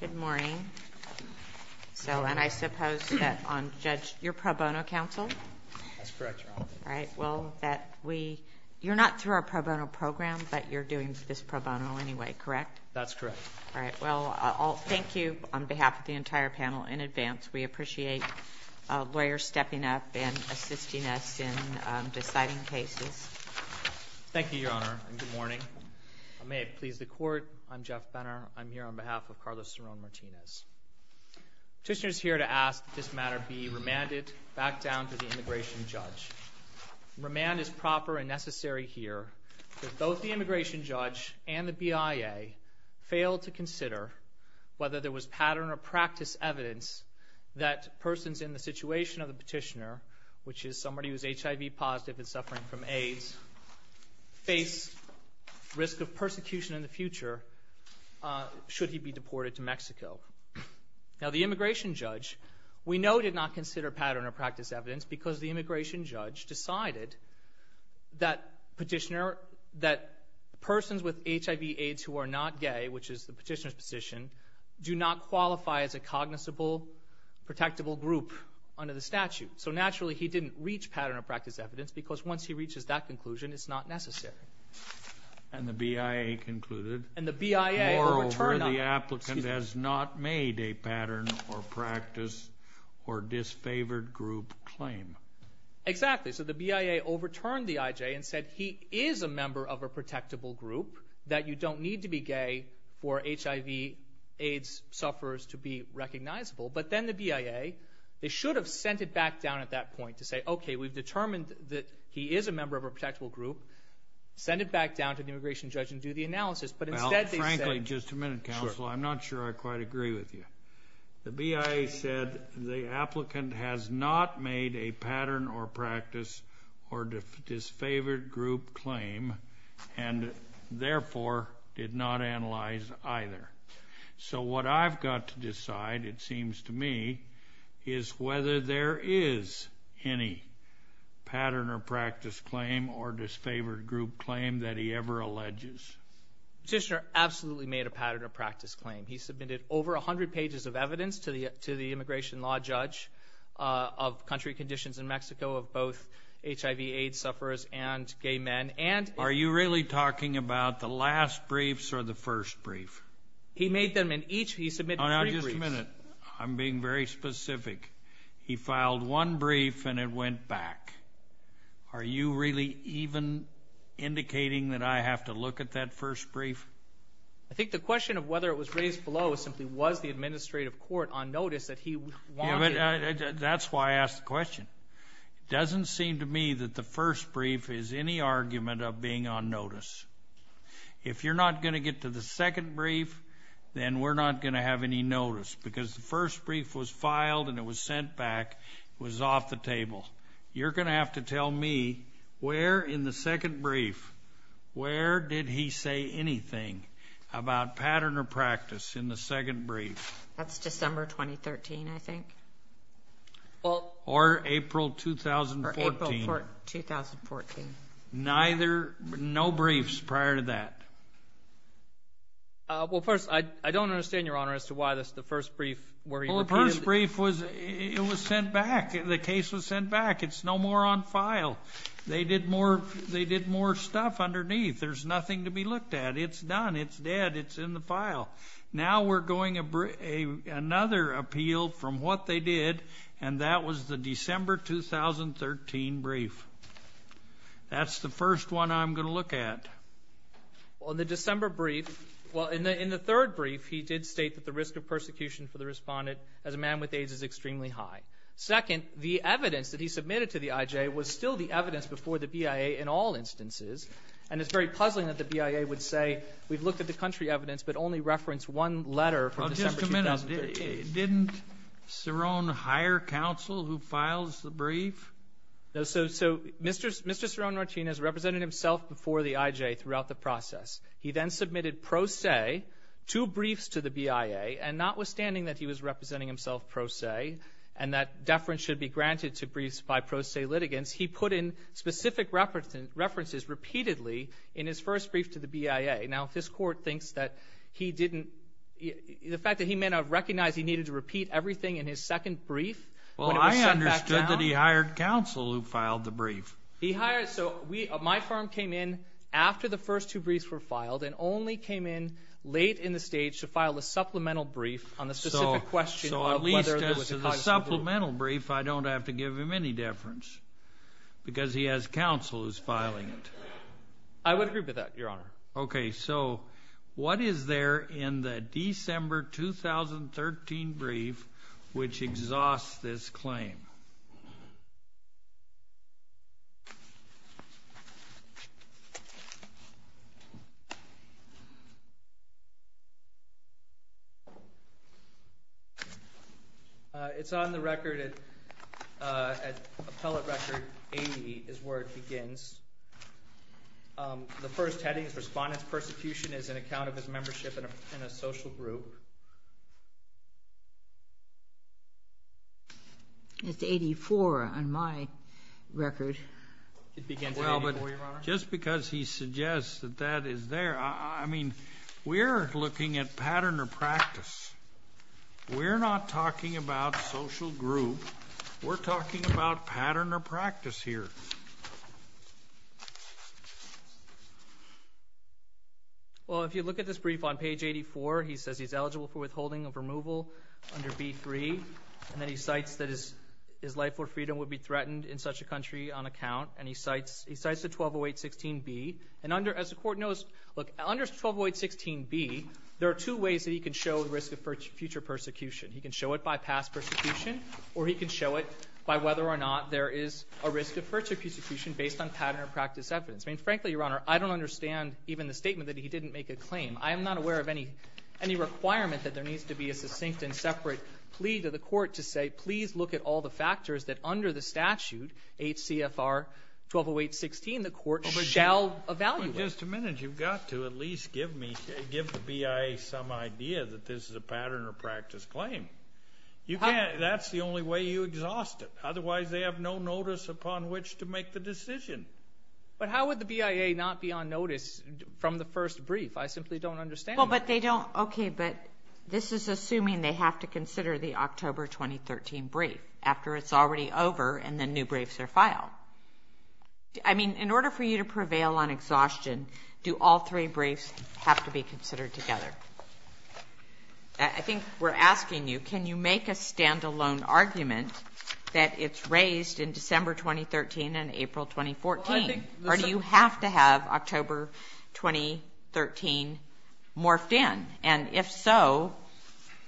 Good morning. So, and I suppose that on Judge, you're pro bono counsel? That's correct, Your Honor. All right. Well, that we, you're not through our pro bono program, but you're doing this pro bono anyway, correct? That's correct. All right. Well, I'll thank you on behalf of the entire panel in advance. We appreciate lawyers stepping up and assisting us in deciding cases. Thank you, Your Honor, and good morning. May it please the Court, I'm Jeff Benner. I'm here on behalf of Carlos Ceron-Martinez. Petitioner's here to ask that this matter be remanded back down to the immigration judge. Remand is proper and necessary here, but both the immigration judge and the BIA failed to consider whether there was pattern or practice evidence that persons in the situation of the petitioner, which is somebody who's HIV positive and suffering from AIDS, face risk of persecution in the future should he be deported to Mexico. Now, the immigration judge, we know, did not consider pattern or practice evidence because the immigration judge decided that petitioner, that persons with HIV AIDS who are not gay, which is the petitioner's position, do not qualify as a cognizable, protectable group under the statute. So naturally, he didn't reach pattern or practice evidence because once he reaches that conclusion, it's not necessary. And the BIA concluded, moreover, the applicant has not made a pattern or practice or disfavored group claim. Exactly. So the BIA overturned the IJ and said he is a member of a protectable group, that you don't need to be gay for HIV AIDS sufferers to be recognizable. But then the BIA, they should have sent it back down at that point to say, okay, we've determined that he is a member of a protectable group. Send it back down to the immigration judge and do the analysis. But instead they said- Well, frankly, just a minute, counsel. I'm not sure I quite agree with you. The BIA said the applicant has not made a pattern or practice or disfavored group claim and therefore did not analyze either. So what I've got to decide, it seems to me, is whether there is any pattern or practice claim or disfavored group claim that he ever alleges. Petitioner absolutely made a pattern or practice claim. He submitted over 100 pages of evidence to the immigration law judge of country conditions in Mexico of both HIV AIDS sufferers and gay men and- Are you really talking about the last briefs or the first brief? He made them in each. He submitted three briefs. Oh, now, just a minute. I'm being very specific. He filed one brief and it went back. Are you really even indicating that I have to look at that first brief? I think the question of whether it was raised below simply was the administrative court on notice that he wanted- That's why I asked the question. It doesn't seem to me that the first brief is any argument of being on notice. If you're not going to get to the second brief, then we're not going to have any notice because the first brief was filed and it was sent back. It was off the table. You're going to have to tell me where in the second brief, where did he say anything about pattern or practice in the second brief? That's December 2013, I think. Or April 2014. Or April 2014. No briefs prior to that. Well, first, I don't understand, Your Honor, as to why the first brief where he repeated- It was sent back. The case was sent back. It's no more on file. They did more stuff underneath. There's nothing to be looked at. It's done. It's dead. It's in the file. Now we're going another appeal from what they did, and that was the December 2013 brief. That's the first one I'm going to look at. Well, in the December brief, well, in the third brief, he did state that the risk of persecution for the respondent as a man with AIDS is extremely high. Second, the evidence that he submitted to the IJ was still the evidence before the BIA in all instances, and it's very puzzling that the BIA would say we've looked at the country evidence but only referenced one letter from December 2013. Well, just a minute. Didn't Ceron hire counsel who files the brief? So Mr. Ceron Martinez represented himself before the IJ throughout the process. He then submitted pro se two briefs to the BIA, and notwithstanding that he was representing himself pro se and that deference should be granted to briefs by pro se litigants, he put in specific references repeatedly in his first brief to the BIA. Now, if this Court thinks that he didn't-the fact that he may not have recognized he needed to repeat everything in his second brief- He hired counsel who filed the brief. He hired-so my firm came in after the first two briefs were filed and only came in late in the stage to file a supplemental brief on the specific question- So at least as to the supplemental brief, I don't have to give him any deference because he has counsel who's filing it. I would agree with that, Your Honor. Okay. So what is there in the December 2013 brief which exhausts this claim? It's on the record at Appellate Record 80 is where it begins. The first heading is Respondents' Persecution as an Account of His Membership in a Social Group. It's 84 on my record. It begins at 84, Your Honor. Well, but just because he suggests that that is there, I mean, we're looking at pattern or practice. We're not talking about social group. We're talking about pattern or practice here. Well, if you look at this brief on page 84, he says he's eligible for withholding of removal under B3, and then he cites that his life or freedom would be threatened in such a country on account, and he cites the 1208.16b. And as the Court knows, look, under 1208.16b, there are two ways that he can show the risk of future persecution. He can show it by past persecution, or he can show it by whether or not there is a risk of future persecution based on pattern or practice evidence. I mean, frankly, Your Honor, I don't understand even the statement that he didn't make a claim. I am not aware of any requirement that there needs to be a succinct and separate plea to the Court to say, please look at all the factors that under the statute, H.C.F.R. 1208.16, the Court shall evaluate. Just a minute. You've got to at least give the BIA some idea that this is a pattern or practice claim. That's the only way you exhaust it. Otherwise, they have no notice upon which to make the decision. But how would the BIA not be on notice from the first brief? I simply don't understand that. Okay, but this is assuming they have to consider the October 2013 brief after it's already over and the new briefs are filed. I mean, in order for you to prevail on exhaustion, do all three briefs have to be considered together? I think we're asking you, can you make a stand-alone argument that it's raised in December 2013 and April 2014? Or do you have to have October 2013 morphed in? And if so,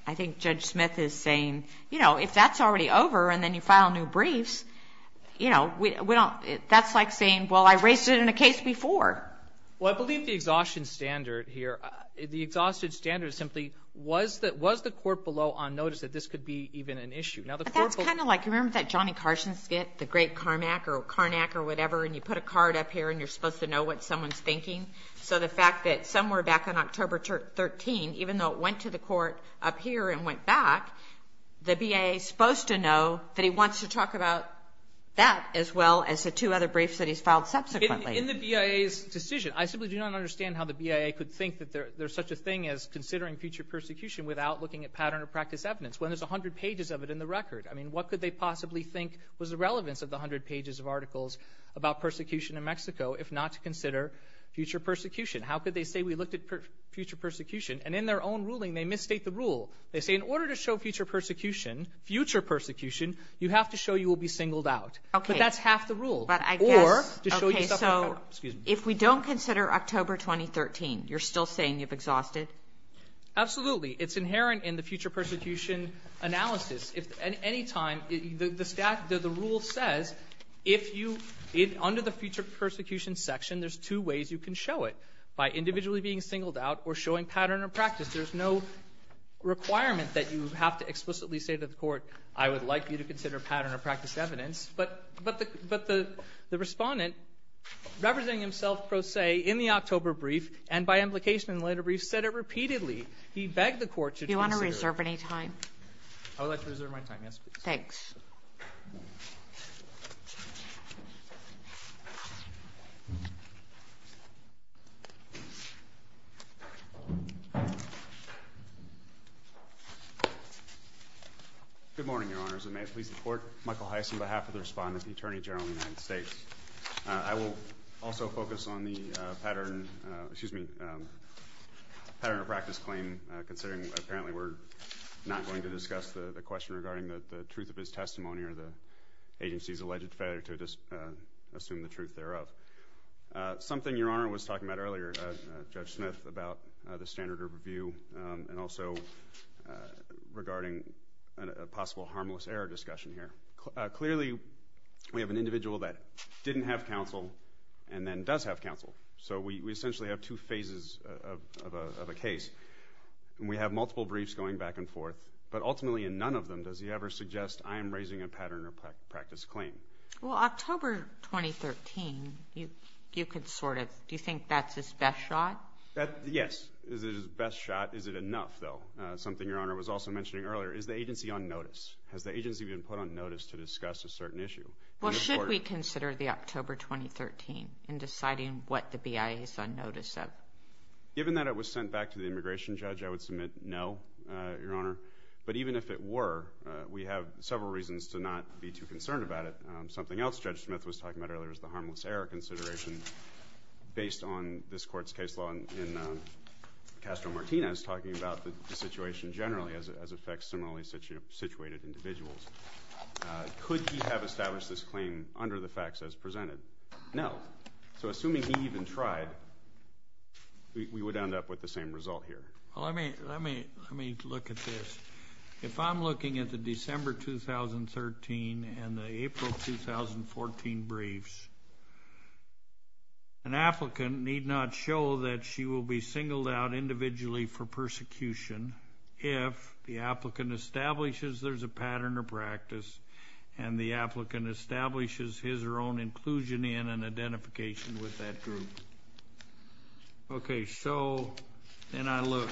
I think Judge Smith is saying, you know, if that's already over and then you file new briefs, that's like saying, well, I raised it in a case before. Well, I believe the exhaustion standard here, the exhaustion standard is simply, was the court below on notice that this could be even an issue? But that's kind of like, you remember that Johnny Carson skit, the great Carmack or Carnack or whatever, and you put a card up here and you're supposed to know what someone's thinking? So the fact that somewhere back on October 13, even though it went to the court up here and went back, the BIA is supposed to know that he wants to talk about that as well as the two other briefs that he's filed subsequently. In the BIA's decision, I simply do not understand how the BIA could think that there's such a thing as considering future persecution without looking at pattern of practice evidence when there's 100 pages of it in the record. I mean, what could they possibly think was the relevance of the 100 pages of articles about persecution in Mexico if not to consider future persecution? How could they say we looked at future persecution? And in their own ruling, they misstate the rule. They say in order to show future persecution, you have to show you will be singled out. But that's half the rule. But I guess, okay, so if we don't consider October 2013, you're still saying you've exhausted? Absolutely. It's inherent in the future persecution analysis. At any time, the rule says if you, under the future persecution section, there's two ways you can show it, by individually being singled out or showing pattern of practice. There's no requirement that you have to explicitly say to the court, I would like you to consider pattern of practice evidence. But the respondent, representing himself pro se in the October brief and by implication in the later brief, said it repeatedly. He begged the court to consider it. Do you want to reserve any time? I would like to reserve my time, yes, please. Thanks. Good morning, Your Honors. I may please support Michael Heiss on behalf of the respondent, the Attorney General of the United States. I will also focus on the pattern of practice claim, considering apparently we're not going to discuss the question regarding the truth of his testimony or the agency's alleged failure to assume the truth thereof. Something Your Honor was talking about earlier, Judge Smith, about the standard of review and also regarding a possible harmless error discussion here. Clearly, we have an individual that didn't have counsel and then does have counsel. So we essentially have two phases of a case. We have multiple briefs going back and forth, but ultimately in none of them does he ever suggest, I am raising a pattern of practice claim. Well, October 2013, you could sort of, do you think that's his best shot? Yes. Is it his best shot? Is it enough, though? Something Your Honor was also mentioning earlier. Is the agency on notice? Has the agency been put on notice to discuss a certain issue? Well, should we consider the October 2013 in deciding what the BIA is on notice of? Given that it was sent back to the immigration judge, I would submit no, Your Honor. But even if it were, we have several reasons to not be too concerned about it. Something else Judge Smith was talking about earlier is the harmless error consideration. Based on this court's case law in Castro-Martinez, talking about the situation generally as it affects similarly situated individuals, could he have established this claim under the facts as presented? No. So assuming he even tried, we would end up with the same result here. Well, let me look at this. If I'm looking at the December 2013 and the April 2014 briefs, an applicant need not show that she will be singled out individually for persecution if the applicant establishes there's a pattern of practice and the applicant establishes his or her own inclusion in an identification with that group. Okay, so then I look.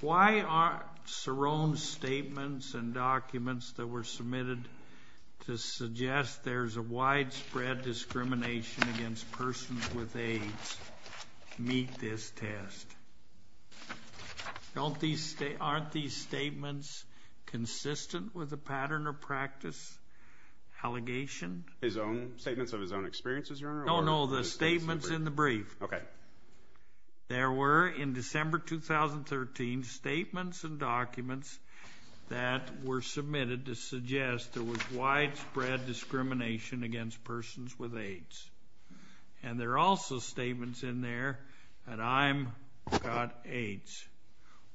Why aren't Cerrone's statements and documents that were submitted to suggest there's a widespread discrimination against persons with AIDS meet this test? Aren't these statements consistent with the pattern of practice allegation? No, no, the statements in the brief. There were in December 2013 statements and documents that were submitted to suggest there was widespread discrimination against persons with AIDS. And there are also statements in there that I've got AIDS.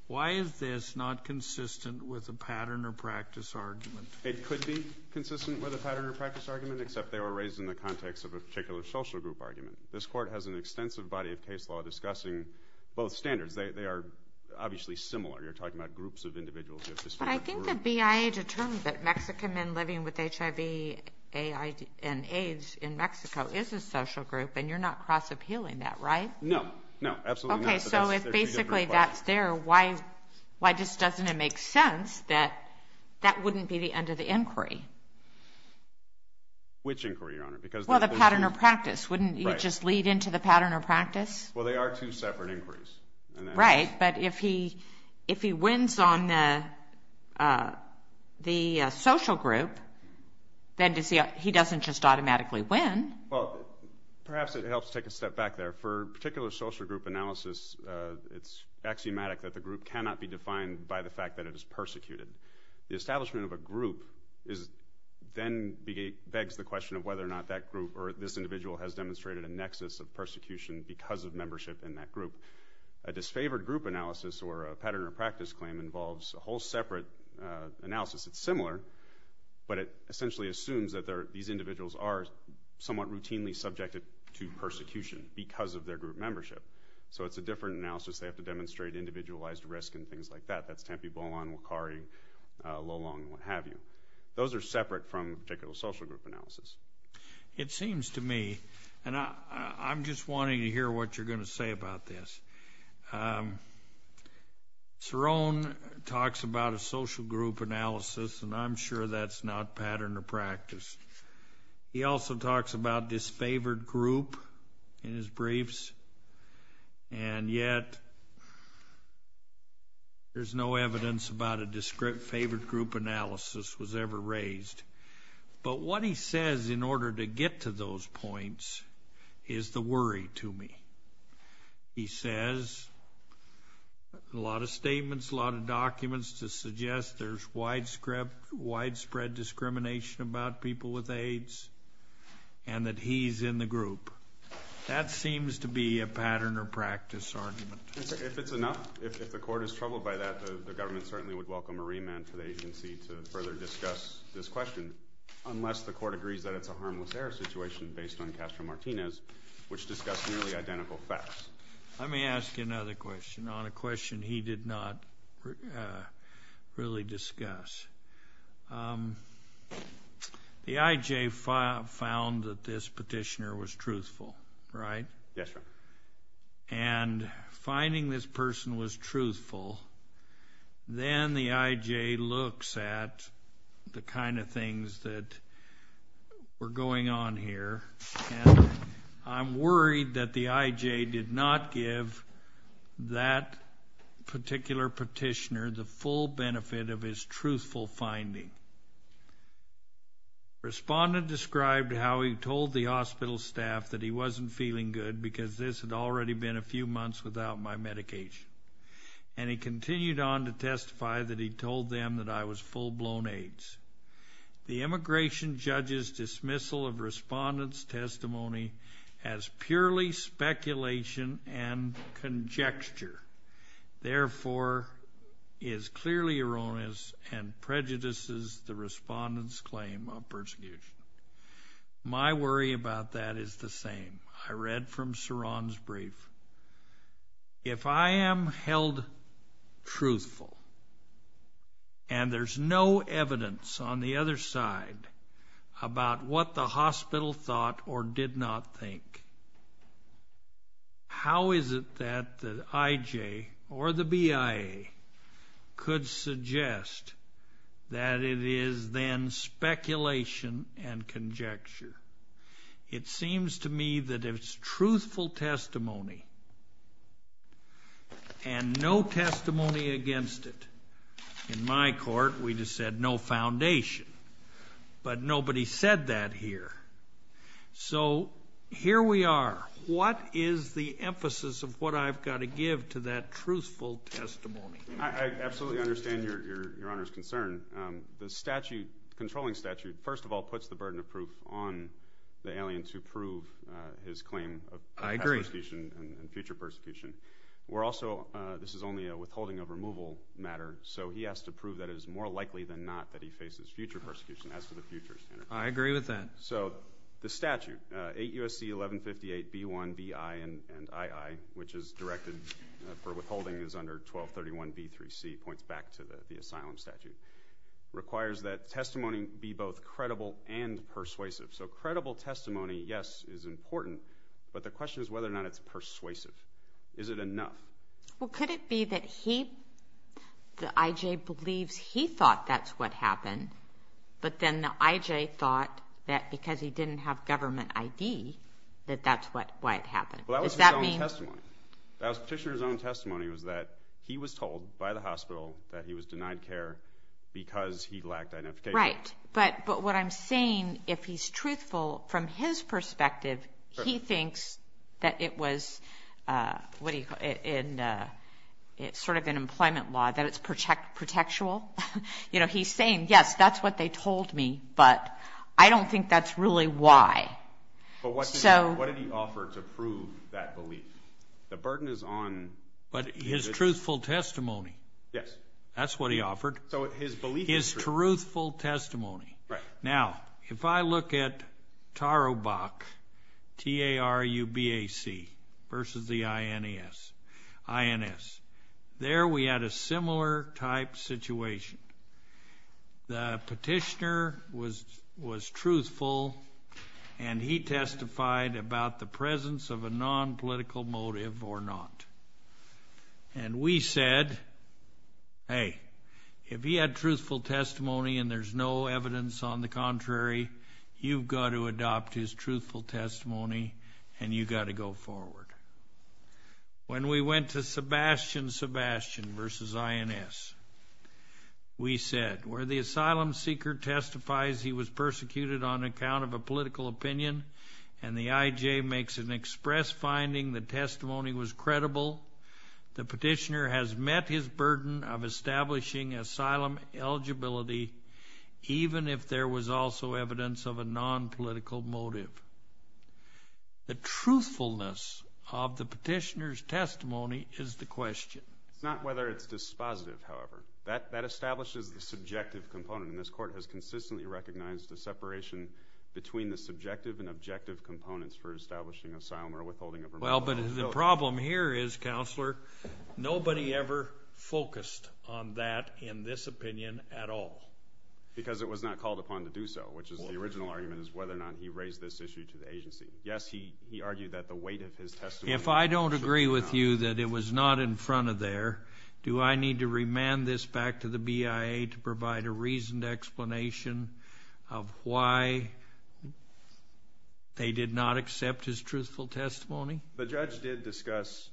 Why is this not consistent with the pattern of practice argument? It could be consistent with the pattern of practice argument except they were raised in the context of a particular social group argument. This Court has an extensive body of case law discussing both standards. They are obviously similar. You're talking about groups of individuals. I think the BIA determined that Mexican men living with HIV and AIDS in Mexico is a social group, and you're not cross-appealing that, right? No, no, absolutely not. Okay, so if basically that's there, why just doesn't it make sense that that wouldn't be the end of the inquiry? Which inquiry, Your Honor? Well, the pattern of practice. Wouldn't you just lead into the pattern of practice? Well, they are two separate inquiries. Right, but if he wins on the social group, then he doesn't just automatically win. Well, perhaps it helps to take a step back there. For a particular social group analysis, it's axiomatic that the group cannot be defined by the fact that it is persecuted. The establishment of a group then begs the question of whether or not that group or this individual has demonstrated a nexus of persecution because of membership in that group. A disfavored group analysis or a pattern of practice claim involves a whole separate analysis. It's similar, but it essentially assumes that these individuals are somewhat routinely subjected to persecution because of their group membership. So it's a different analysis. They have to demonstrate individualized risk and things like that. That's Tempe, Bolon, Wakari, Lolong, what have you. Those are separate from a particular social group analysis. It seems to me, and I'm just wanting to hear what you're going to say about this. Cerrone talks about a social group analysis, and I'm sure that's not pattern of practice. He also talks about disfavored group in his briefs, and yet there's no evidence about a disfavored group analysis was ever raised. But what he says in order to get to those points is the worry to me. He says a lot of statements, a lot of documents to suggest there's widespread discrimination about people with AIDS and that he's in the group. That seems to be a pattern or practice argument. If it's enough, if the court is troubled by that, the government certainly would welcome a remand for the agency to further discuss this question, unless the court agrees that it's a harmless error situation based on Castro-Martinez, which discussed nearly identical facts. Let me ask you another question on a question he did not really discuss. The IJ found that this petitioner was truthful, right? Yes, sir. And finding this person was truthful, then the IJ looks at the kind of things that were going on here, and I'm worried that the IJ did not give that particular petitioner the full benefit of his truthful finding. Respondent described how he told the hospital staff that he wasn't feeling good because this had already been a few months without my medication, and he continued on to testify that he told them that I was full-blown AIDS. The immigration judge's dismissal of respondent's testimony as purely speculation and conjecture, therefore, is clearly erroneous and prejudices the respondent's claim of persecution. My worry about that is the same. I read from Saron's brief. If I am held truthful and there's no evidence on the other side about what the hospital thought or did not think, how is it that the IJ or the BIA could suggest that it is then speculation and conjecture? It seems to me that it's truthful testimony and no testimony against it. In my court, we just said no foundation, but nobody said that here. So here we are. What is the emphasis of what I've got to give to that truthful testimony? I absolutely understand Your Honor's concern. The controlling statute, first of all, puts the burden of proof on the alien to prove his claim of past persecution and future persecution. This is only a withholding of removal matter, so he has to prove that it is more likely than not that he faces future persecution as to the future standard. I agree with that. So the statute, 8 U.S.C. 1158 B-1, B-I, and I-I, which is directed for withholding is under 1231 B-3C, points back to the asylum statute, requires that testimony be both credible and persuasive. So credible testimony, yes, is important, but the question is whether or not it's persuasive. Is it enough? Well, could it be that he, the IJ, believes he thought that's what happened, but then the IJ thought that because he didn't have government ID that that's why it happened? Well, that was his own testimony. Does that mean? That was Petitioner's own testimony was that he was told by the hospital that he was denied care because he lacked identification. Right, but what I'm saying, if he's truthful, from his perspective, he thinks that it was, what do you call it, sort of an employment law, that it's protectual. You know, he's saying, yes, that's what they told me, but I don't think that's really why. But what did he offer to prove that belief? The burden is on. But his truthful testimony. Yes. That's what he offered. So his belief is true. His truthful testimony. Right. Now, if I look at TARUBAC, T-A-R-U-B-A-C, versus the INS, there we had a similar type situation. The petitioner was truthful, and he testified about the presence of a nonpolitical motive or not. And we said, hey, if he had truthful testimony and there's no evidence on the contrary, you've got to adopt his truthful testimony, and you've got to go forward. When we went to Sebastian Sebastian versus INS, we said, where the asylum seeker testifies he was persecuted on account of a political opinion and the IJ makes an express finding the testimony was credible, the petitioner has met his burden of establishing asylum eligibility, even if there was also evidence of a nonpolitical motive. The truthfulness of the petitioner's testimony is the question. It's not whether it's dispositive, however. That establishes the subjective component, and this Court has consistently recognized the separation between the subjective and objective components for establishing asylum or withholding of remuneration. Well, but the problem here is, Counselor, nobody ever focused on that in this opinion at all. Because it was not called upon to do so, which is the original argument is whether or not he raised this issue to the agency. Yes, he argued that the weight of his testimony was not enough. If I don't agree with you that it was not in front of there, do I need to remand this back to the BIA to provide a reasoned explanation of why they did not accept his truthful testimony? The judge did discuss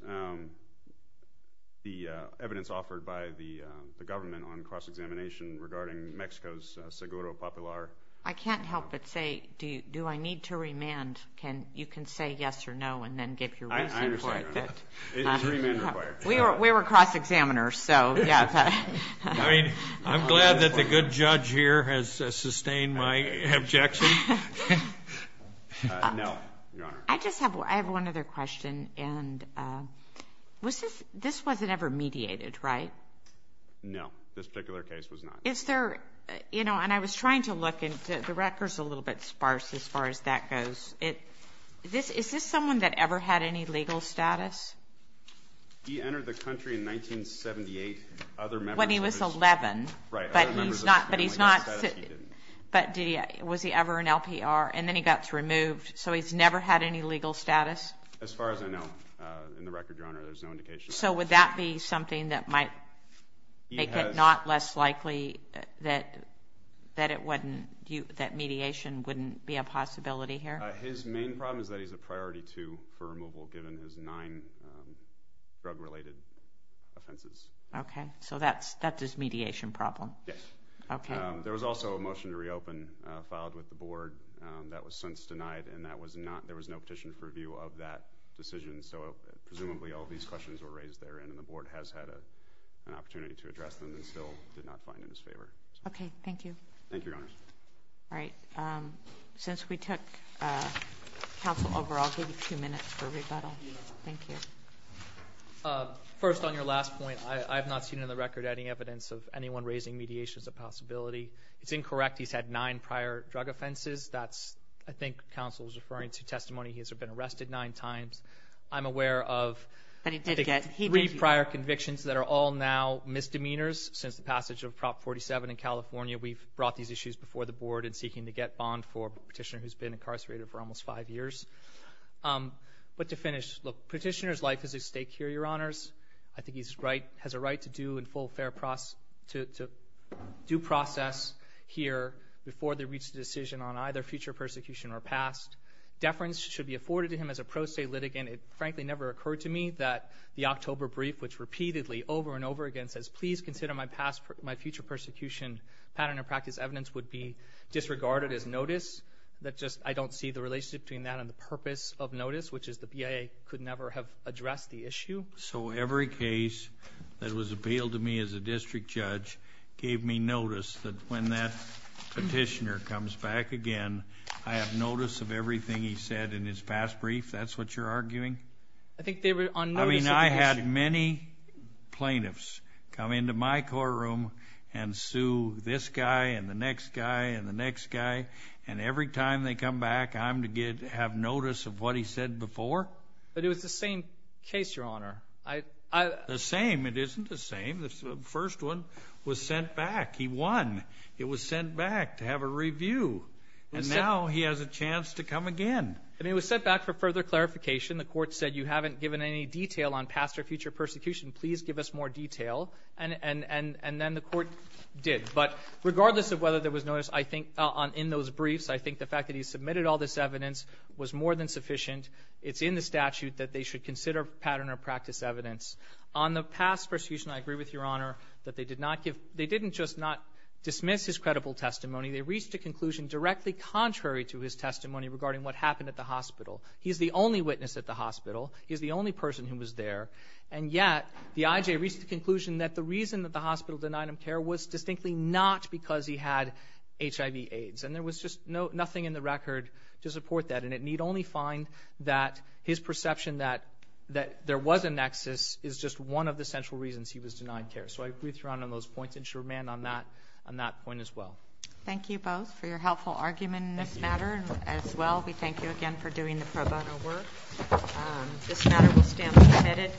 the evidence offered by the government on cross-examination regarding Mexico's seguro popular. I can't help but say, do I need to remand? You can say yes or no and then give your reason for it. I understand, Your Honor. It's remand required. We were cross-examiners, so yes. I mean, I'm glad that the good judge here has sustained my objection. No, Your Honor. I just have one other question, and this wasn't ever mediated, right? No, this particular case was not. Is there, you know, and I was trying to look, and the record's a little bit sparse as far as that goes. Is this someone that ever had any legal status? He entered the country in 1978. When he was 11, but he's not. But was he ever an LPR? And then he got removed, so he's never had any legal status? As far as I know, in the record, Your Honor, there's no indication. So would that be something that might make it not less likely that mediation wouldn't be a possibility here? His main problem is that he's a priority two for removal, given his nine drug-related offenses. Okay, so that's his mediation problem. Yes. Okay. There was also a motion to reopen filed with the board that was since denied, and there was no petition for review of that decision, so presumably all these questions were raised there, and the board has had an opportunity to address them and still did not find it in his favor. Thank you. Thank you, Your Honors. All right. Since we took counsel over, I'll give you two minutes for rebuttal. Thank you. First, on your last point, I have not seen in the record any evidence of anyone raising mediation as a possibility. It's incorrect. He's had nine prior drug offenses. That's, I think, counsel was referring to testimony. He's been arrested nine times. I'm aware of three prior convictions that are all now misdemeanors. Since the passage of Prop 47 in California, we've brought these issues before the board in seeking to get bond for a petitioner who's been incarcerated for almost five years. But to finish, look, petitioner's life is at stake here, Your Honors. I think he has a right to do and full fair process, here, before they reach a decision on either future persecution or past. Deference should be afforded to him as a pro se litigant. It, frankly, never occurred to me that the October brief, which repeatedly over and over again says, please consider my future persecution pattern of practice evidence, would be disregarded as notice. I don't see the relationship between that and the purpose of notice, which is the BIA could never have addressed the issue. So every case that was appealed to me as a district judge gave me notice that when that petitioner comes back again, I have notice of everything he said in his past brief. That's what you're arguing? I think they were on notice of the issue. I mean, I had many plaintiffs come into my courtroom and sue this guy and the next guy and the next guy. And every time they come back, I'm to have notice of what he said before? But it was the same case, Your Honor. The same? It isn't the same. The first one was sent back. He won. It was sent back to have a review. And now he has a chance to come again. And it was sent back for further clarification. The Court said you haven't given any detail on past or future persecution. Please give us more detail. And then the Court did. But regardless of whether there was notice, I think, in those briefs, I think the fact that he submitted all this evidence was more than sufficient. It's in the statute that they should consider pattern of practice evidence. On the past persecution, I agree with Your Honor, that they didn't just not dismiss his credible testimony. They reached a conclusion directly contrary to his testimony regarding what happened at the hospital. He's the only witness at the hospital. He's the only person who was there. And yet, the I.J. reached the conclusion that the reason that the hospital denied him care was distinctly not because he had HIV-AIDS. And there was just nothing in the record to support that. And it need only find that his perception that there was a nexus is just one of the central reasons he was denied care. So I agree with Your Honor on those points. And sure, ma'am, on that point as well. Thank you both for your helpful argument in this matter. As well, we thank you again for doing the pro bono work. This matter will stand submitted.